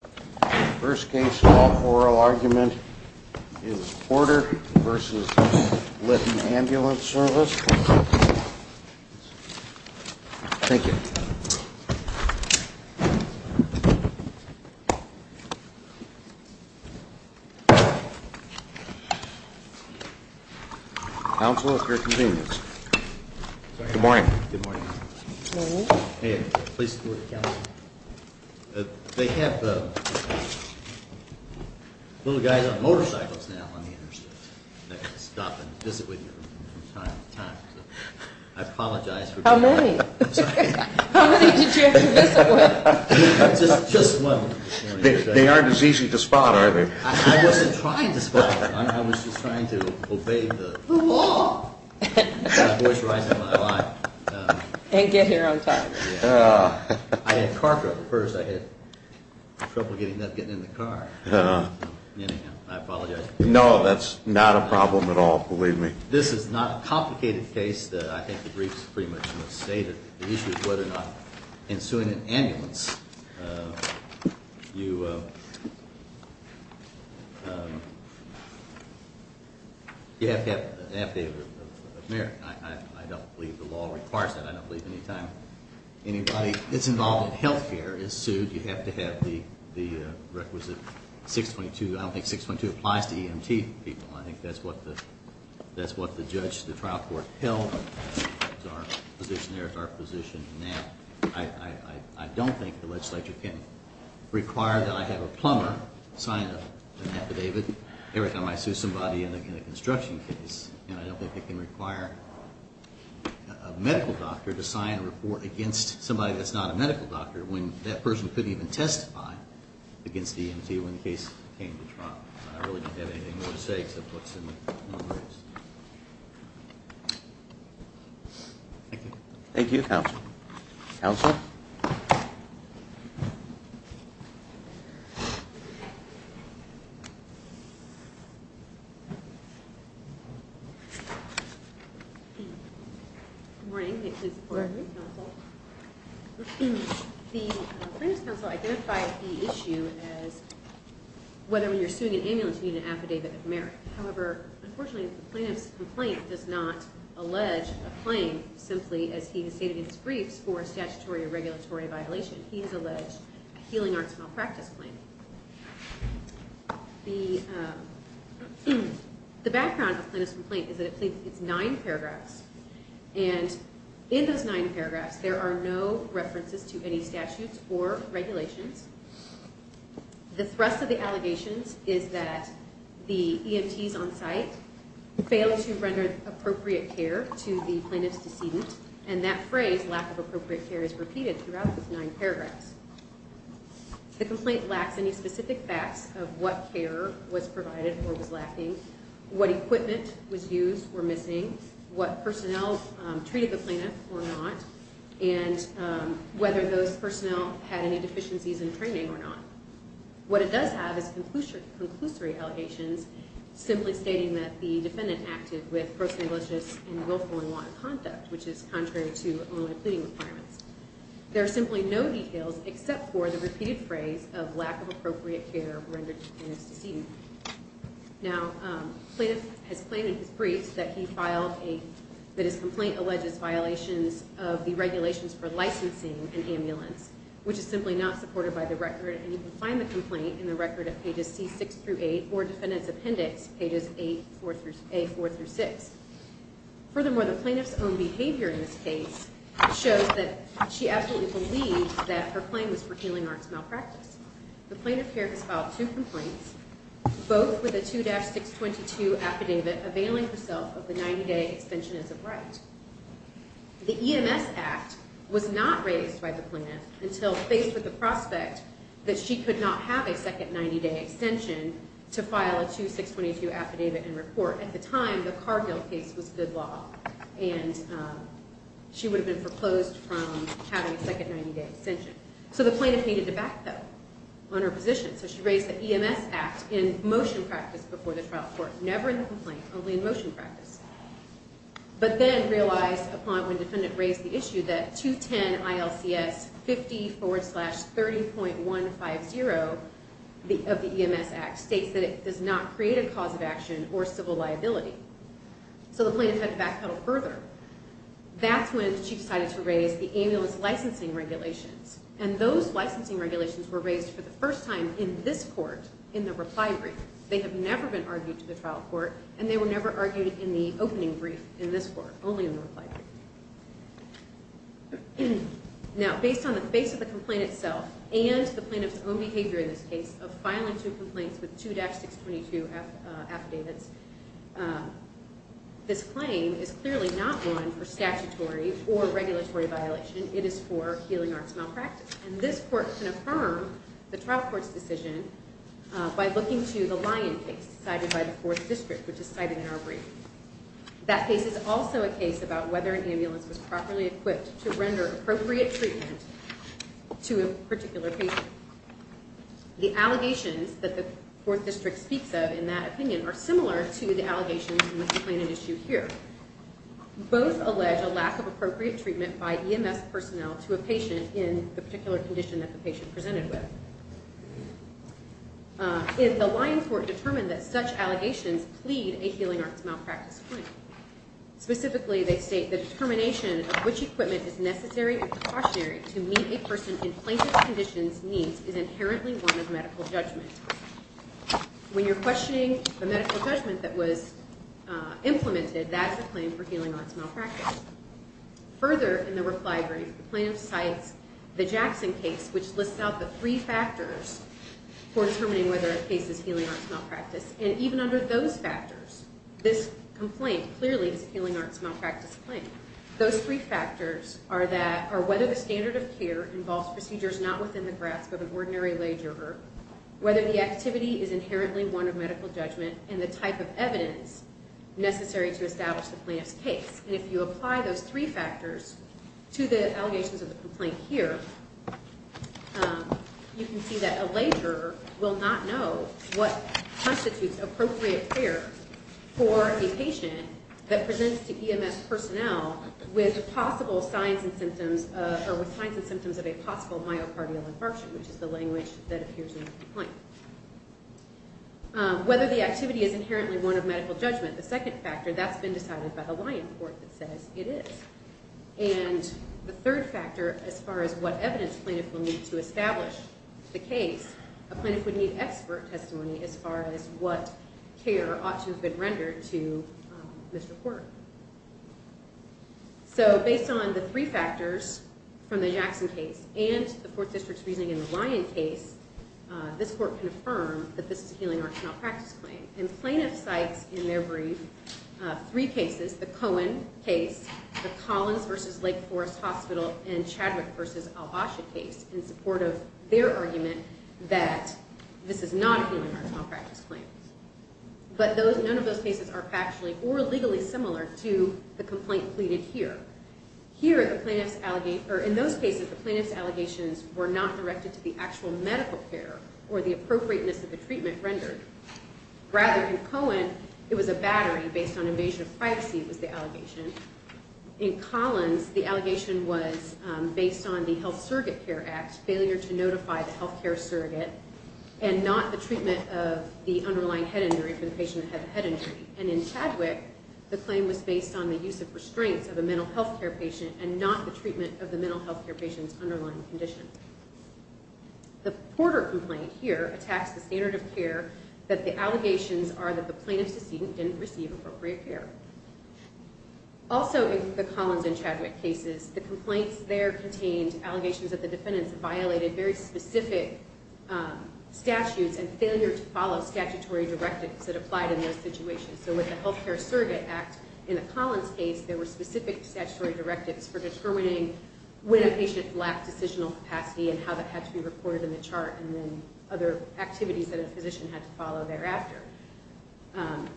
The first case in all oral argument is Porter v. Litton Ambulance Service. Thank you. Counsel, at your convenience. Good morning. Good morning. Good morning. Please sit down. They have little guys on motorcycles now on the interstate that stop and visit with you from time to time. I apologize for... How many? I'm sorry. How many did you actually visit with? Just one. They aren't as easy to spot, are they? I wasn't trying to spot them. I was just trying to obey the... The law! My voice is rising in my life. And get here on time. I had car trouble at first. I had trouble getting in the car. Anyhow, I apologize. No, that's not a problem at all, believe me. This is not a complicated case. I think the briefs pretty much state it. The issue is whether or not in suing an ambulance, you... You have to have an affidavit of merit. I don't believe the law requires that. I don't believe anytime anybody that's involved in healthcare is sued, you have to have the requisite 622. I don't think 622 applies to EMT people. I think that's what the judge, the trial court held. There's our position there. There's our position now. I don't think the legislature can require that I have a plumber sign an affidavit every time I sue somebody in a construction case. And I don't think they can require a medical doctor to sign a report against somebody that's not a medical doctor when that person couldn't even testify against the EMT when the case came to trial. I really don't have anything more to say except what's in the briefs. Thank you. Thank you, counsel. Counsel? Good morning. May I please report? Good morning, counsel. The plaintiff's counsel identified the issue as whether when you're suing an ambulance, you need an affidavit of merit. However, unfortunately, the plaintiff's complaint does not allege a claim simply as he has stated in his briefs for a statutory or regulatory violation. He has alleged a healing arts malpractice claim. The background of the plaintiff's complaint is that it's nine paragraphs. And in those nine paragraphs, there are no references to any statutes or regulations. The thrust of the allegations is that the EMTs on site failed to render appropriate care to the plaintiff's decedent. And that phrase, lack of appropriate care, is repeated throughout those nine paragraphs. The complaint lacks any specific facts of what care was provided or was lacking, what equipment was used or missing, what personnel treated the plaintiff or not, and whether those personnel had any deficiencies in training or not. What it does have is conclusory allegations simply stating that the defendant acted with gross negligence and willful and lawless conduct, which is contrary to Illinois pleading requirements. There are simply no details except for the repeated phrase of lack of appropriate care rendered to the plaintiff's decedent. Now, the plaintiff has claimed in his briefs that his complaint alleges violations of the regulations for licensing an ambulance, which is simply not supported by the record. And you can find the complaint in the record of pages C6 through 8 or Defendant's Appendix, pages A4 through 6. Furthermore, the plaintiff's own behavior in this case shows that she absolutely believes that her claim was for healing arts malpractice. The plaintiff here has filed two complaints, both with a 2-622 affidavit availing herself of the 90-day extension as of right. The EMS Act was not raised by the plaintiff until faced with the prospect that she could not have a second 90-day extension to file a 2-622 affidavit and report. At the time, the Cargill case was good law, and she would have been foreclosed from having a second 90-day extension. So the plaintiff needed to backpedal on her position. So she raised the EMS Act in motion practice before the trial court, never in the complaint, only in motion practice. But then realized upon when Defendant raised the issue that 210 ILCS 50 forward slash 30.150 of the EMS Act states that it does not create a cause of action or civil liability. So the plaintiff had to backpedal further. That's when she decided to raise the ambulance licensing regulations. And those licensing regulations were raised for the first time in this court, in the reply brief. They have never been argued to the trial court, and they were never argued in the opening brief in this court, only in the reply brief. Now, based on the face of the complaint itself, and the plaintiff's own behavior in this case of filing two complaints with 2-622 affidavits, this claim is clearly not one for statutory or regulatory violation. It is for healing arts malpractice. And this court can affirm the trial court's decision by looking to the Lyon case cited by the Fourth District, which is cited in our brief. That case is also a case about whether an ambulance was properly equipped to render appropriate treatment to a particular patient. The allegations that the Fourth District speaks of in that opinion are similar to the allegations in this plaintiff's issue here. Both allege a lack of appropriate treatment by EMS personnel to a patient in the particular condition that the patient presented with. In the Lyon court determined that such allegations plead a healing arts malpractice claim. Specifically, they state the determination of which equipment is necessary and precautionary to meet a person in plaintiff's condition's needs is inherently one of medical judgment. When you're questioning the medical judgment that was implemented, that is a claim for healing arts malpractice. Further, in the reply brief, the plaintiff cites the Jackson case, which lists out the three factors for determining whether a case is healing arts malpractice. And even under those factors, this complaint clearly is a healing arts malpractice claim. Those three factors are whether the standard of care involves procedures not within the grasp of an ordinary layjuror, whether the activity is inherently one of medical judgment, and the type of evidence necessary to establish the plaintiff's case. And if you apply those three factors to the allegations of the complaint here, you can see that a layjuror will not know what constitutes appropriate care for a patient that presents to EMS personnel with possible signs and symptoms of a possible myocardial infarction, which is the language that appears in the complaint. Whether the activity is inherently one of medical judgment, the second factor, that's been decided by the Lyon court that says it is. And the third factor, as far as what evidence plaintiff will need to establish the case, a plaintiff would need expert testimony as far as what care ought to have been rendered to this report. So based on the three factors from the Jackson case and the Fourth District's reasoning in the Lyon case, this court can affirm that this is a healing arts malpractice claim. And plaintiff cites in their brief three cases, the Cohen case, the Collins v. Lake Forest Hospital, and Chadwick v. Albasha case in support of their argument that this is not a healing arts malpractice claim. But none of those cases are factually or legally similar to the complaint pleaded here. Here, in those cases, the plaintiff's allegations were not directed to the actual medical care or the appropriateness of the treatment rendered. Rather, in Cohen, it was a battery based on invasion of privacy was the allegation. In Collins, the allegation was based on the Health Surrogate Care Act failure to notify the health care surrogate and not the treatment of the underlying head injury for the patient that had the head injury. And in Chadwick, the claim was based on the use of restraints of a mental health care patient and not the treatment of the mental health care patient's underlying condition. The Porter complaint here attacks the standard of care that the allegations are that the plaintiff's decedent didn't receive appropriate care. Also, in the Collins and Chadwick cases, the complaints there contained allegations that the defendants violated very specific statutes and failure to follow statutory directives that applied in those situations. So with the Health Care Surrogate Act, in the Collins case, there were specific statutory directives for determining when a patient lacked decisional capacity and how that had to be recorded in the chart and then other activities that a physician had to follow thereafter.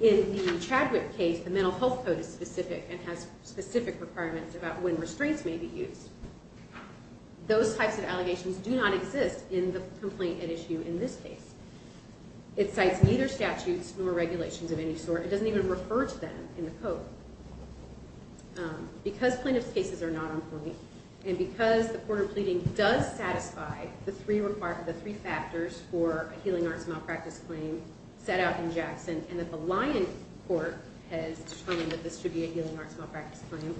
In the Chadwick case, the mental health code is specific and has specific requirements about when restraints may be used. Those types of allegations do not exist in the complaint at issue in this case. It cites neither statutes nor regulations of any sort. It doesn't even refer to them in the code. Because plaintiff's cases are not on point and because the Porter pleading does satisfy the three factors for a healing arts malpractice claim set out in Jackson and that the Lyon court has determined that this should be a healing arts malpractice claim,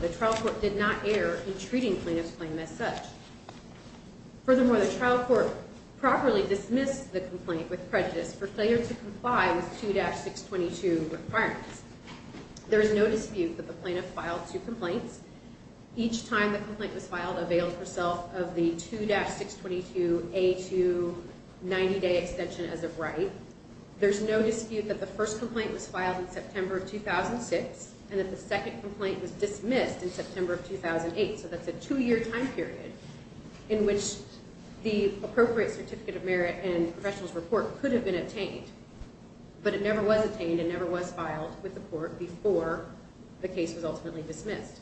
the trial court did not err in treating plaintiff's claim as such. Furthermore, the trial court properly dismissed the complaint with prejudice for failure to comply with 2-622 requirements. There is no dispute that the plaintiff filed two complaints. Each time the complaint was filed availed herself of the 2-622A2 90-day extension as of right. There's no dispute that the first complaint was filed in September of 2006 and that the second complaint was dismissed in September of 2008. So that's a two-year time period in which the appropriate certificate of merit and professional's report could have been obtained. But it never was obtained and never was filed with the court before the case was ultimately dismissed.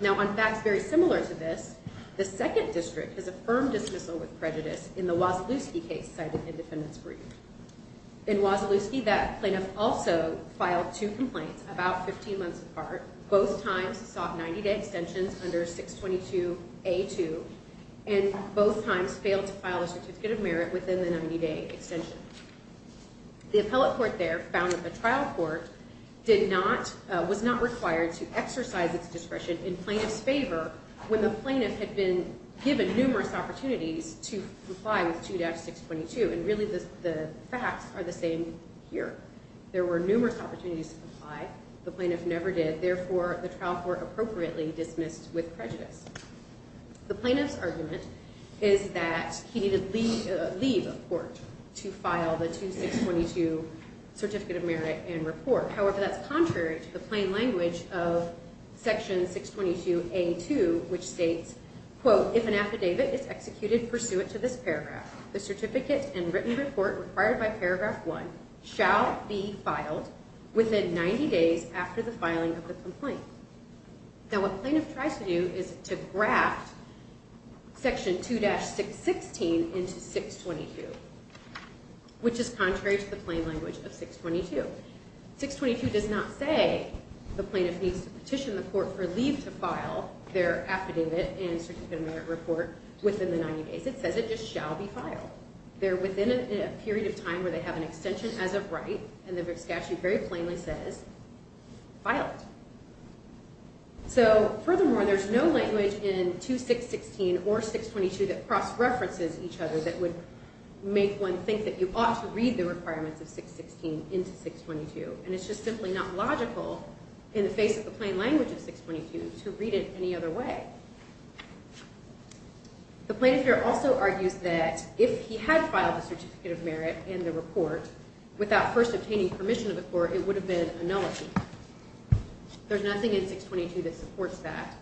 Now on facts very similar to this, the second district has affirmed dismissal with prejudice in the Wasilewski case cited in defendant's brief. In Wasilewski, that plaintiff also filed two complaints about 15 months apart. Both times sought 90-day extensions under 622A2 and both times failed to file a certificate of merit within the 90-day extension. The appellate court there found that the trial court was not required to exercise its discretion in plaintiff's favor when the plaintiff had been given numerous opportunities to comply with 2-622. And really the facts are the same here. There were numerous opportunities to comply. The plaintiff never did. Therefore, the trial court appropriately dismissed with prejudice. The plaintiff's argument is that he needed leave of court to file the 2-622 certificate of merit and report. However, that's contrary to the plain language of section 622A2 which states, quote, If an affidavit is executed pursuant to this paragraph, the certificate and written report required by paragraph one shall be filed within 90 days after the filing of the complaint. Now what plaintiff tries to do is to graft section 2-616 into 622 which is contrary to the plain language of 622. 622 does not say the plaintiff needs to petition the court for leave to file their affidavit and certificate of merit report within the 90 days. It says it just shall be filed. They're within a period of time where they have an extension as of right and the statute very plainly says, file it. So furthermore, there's no language in 2-616 or 622 that cross-references each other that would make one think that you ought to read the requirements of 616 into 622. And it's just simply not logical in the face of the plain language of 622 to read it any other way. The plaintiff here also argues that if he had filed the certificate of merit and the report without first obtaining permission of the court, it would have been a nullity. There's nothing in 622 that supports that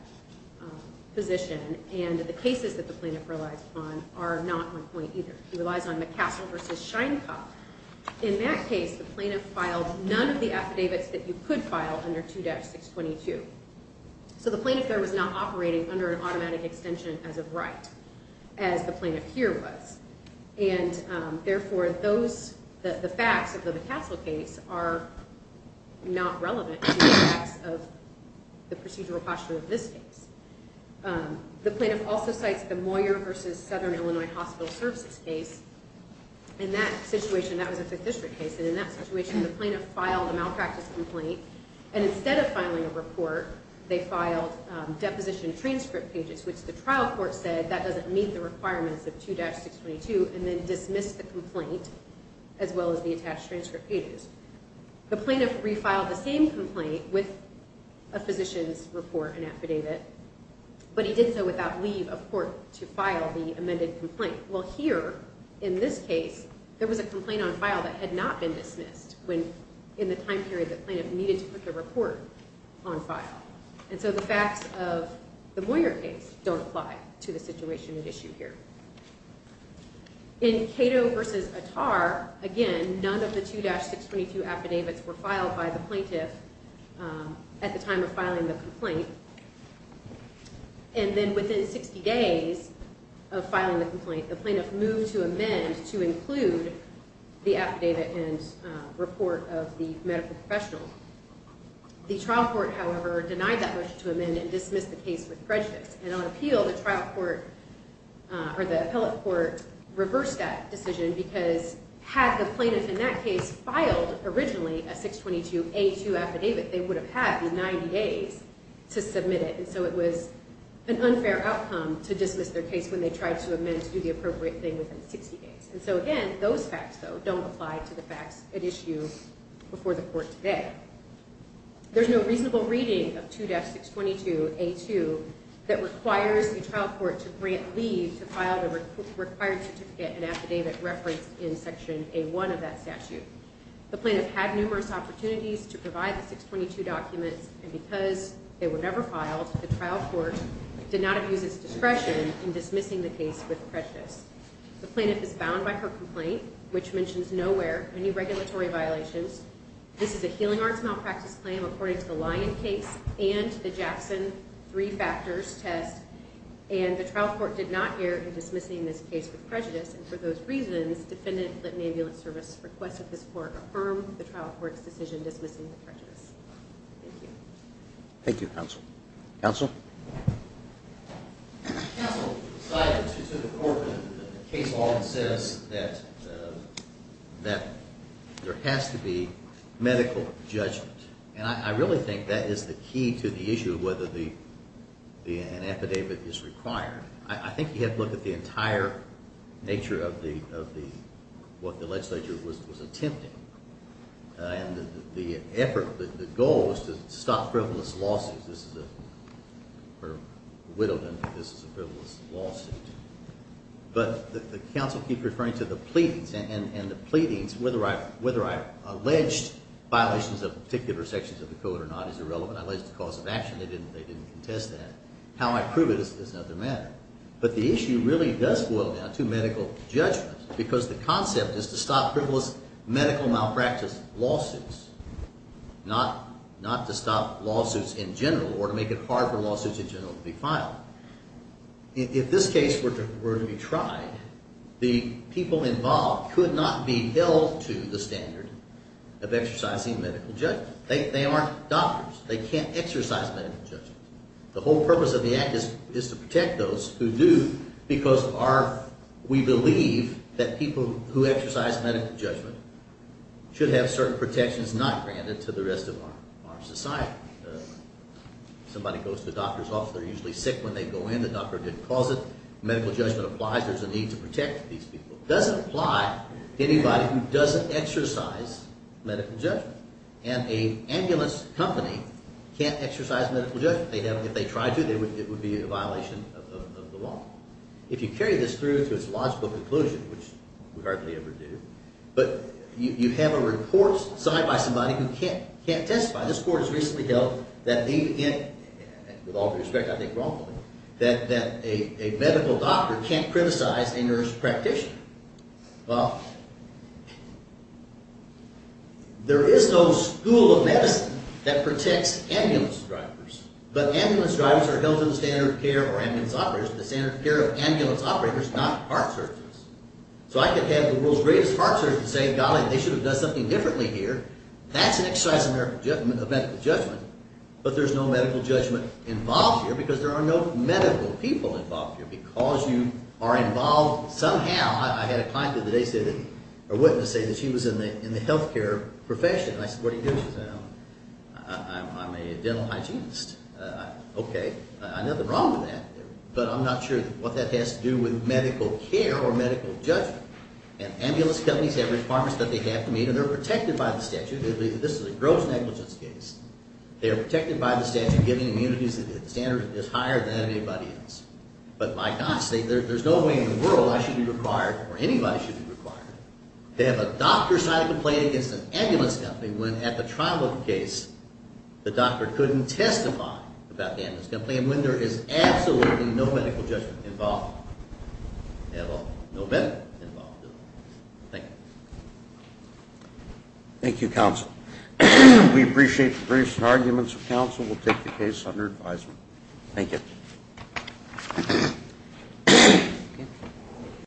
position. And the cases that the plaintiff relies upon are not on point either. He relies on McCassell v. Sheinkopf. In that case, the plaintiff filed none of the affidavits that you could file under 2-622. So the plaintiff there was not operating under an automatic extension as of right as the plaintiff here was. And therefore, the facts of the McCassell case are not relevant to the facts of the procedural posture of this case. The plaintiff also cites the Moyer v. Southern Illinois Hospital Services case. In that situation, that was a 5th District case. And in that situation, the plaintiff filed a malpractice complaint. And instead of filing a report, they filed deposition transcript pages, which the trial court said that doesn't meet the requirements of 2-622, and then dismissed the complaint as well as the attached transcript pages. The plaintiff refiled the same complaint with a physician's report and affidavit, but he did so without leave of court to file the amended complaint. Well, here in this case, there was a complaint on file that had not been dismissed in the time period that the plaintiff needed to put the report on file. And so the facts of the Moyer case don't apply to the situation at issue here. In Cato v. Attar, again, none of the 2-622 affidavits were filed by the plaintiff at the time of filing the complaint. And then within 60 days of filing the complaint, the plaintiff moved to amend to include the affidavit and report of the medical professional. The trial court, however, denied that motion to amend and dismissed the case with prejudice. And on appeal, the trial court or the appellate court reversed that decision because had the plaintiff in that case filed originally a 622A2 affidavit, they would have had the 90 days to submit it. And so it was an unfair outcome to dismiss their case when they tried to amend to do the appropriate thing within 60 days. And so, again, those facts, though, don't apply to the facts at issue before the court today. There's no reasonable reading of 2-622A2 that requires the trial court to grant leave to file the required certificate and affidavit reference in Section A1 of that statute. The plaintiff had numerous opportunities to provide the 622 documents. And because they were never filed, the trial court did not abuse its discretion in dismissing the case with prejudice. The plaintiff is bound by her complaint, which mentions nowhere any regulatory violations. This is a healing arts malpractice claim according to the Lyon case and the Jackson three factors test. And the trial court did not err in dismissing this case with prejudice. And for those reasons, defendant let an ambulance service request that this court affirm the trial court's decision dismissing the prejudice. Thank you. Thank you, counsel. Counsel? Counsel, to the court, the case law says that there has to be medical judgment. And I really think that is the key to the issue of whether an affidavit is required. I think you have to look at the entire nature of what the legislature was attempting. And the effort, the goal was to stop frivolous lawsuits. This is a sort of widowed, this is a frivolous lawsuit. But the counsel keep referring to the pleadings. And the pleadings, whether I alleged violations of particular sections of the code or not is irrelevant. I alleged a cause of action. They didn't contest that. How I prove it is another matter. But the issue really does boil down to medical judgment because the concept is to stop frivolous medical malpractice lawsuits. Not to stop lawsuits in general or to make it hard for lawsuits in general to be filed. If this case were to be tried, the people involved could not be held to the standard of exercising medical judgment. They aren't doctors. They can't exercise medical judgment. The whole purpose of the act is to protect those who do because we believe that people who exercise medical judgment should have certain protections not granted to the rest of our society. Somebody goes to the doctor's office, they're usually sick when they go in. The doctor didn't cause it. Medical judgment applies. There's a need to protect these people. It doesn't apply to anybody who doesn't exercise medical judgment. And an ambulance company can't exercise medical judgment. If they tried to, it would be a violation of the law. If you carry this through to its logical conclusion, which we hardly ever do, but you have a report signed by somebody who can't testify. This court has recently held that, with all due respect, I think wrongly, that a medical doctor can't criticize a nurse practitioner. Well, there is no school of medicine that protects ambulance drivers. But ambulance drivers are held to the standard of care of ambulance operators, the standard of care of ambulance operators, not heart surgeons. So I could have the world's greatest heart surgeon say, golly, they should have done something differently here. That's an exercise of medical judgment. But there's no medical judgment involved here because there are no medical people involved here. Because you are involved somehow. I had a client the other day, a witness, say that she was in the health care profession. I said, what do you do? She said, I'm a dental hygienist. OK, nothing wrong with that. But I'm not sure what that has to do with medical care or medical judgment. And ambulance companies have requirements that they have to meet, and they're protected by the statute. This is a gross negligence case. They are protected by the statute, giving immunities that the standard is higher than anybody else. But my gosh, there's no way in the world I should be required, or anybody should be required, to have a doctor sign a complaint against an ambulance company when, at the trial of the case, the doctor couldn't testify about the ambulance company, and when there is absolutely no medical judgment involved. They have no medical involvement. Thank you. Thank you, counsel. We appreciate the briefs and arguments of counsel. We'll take the case under advisement. Thank you.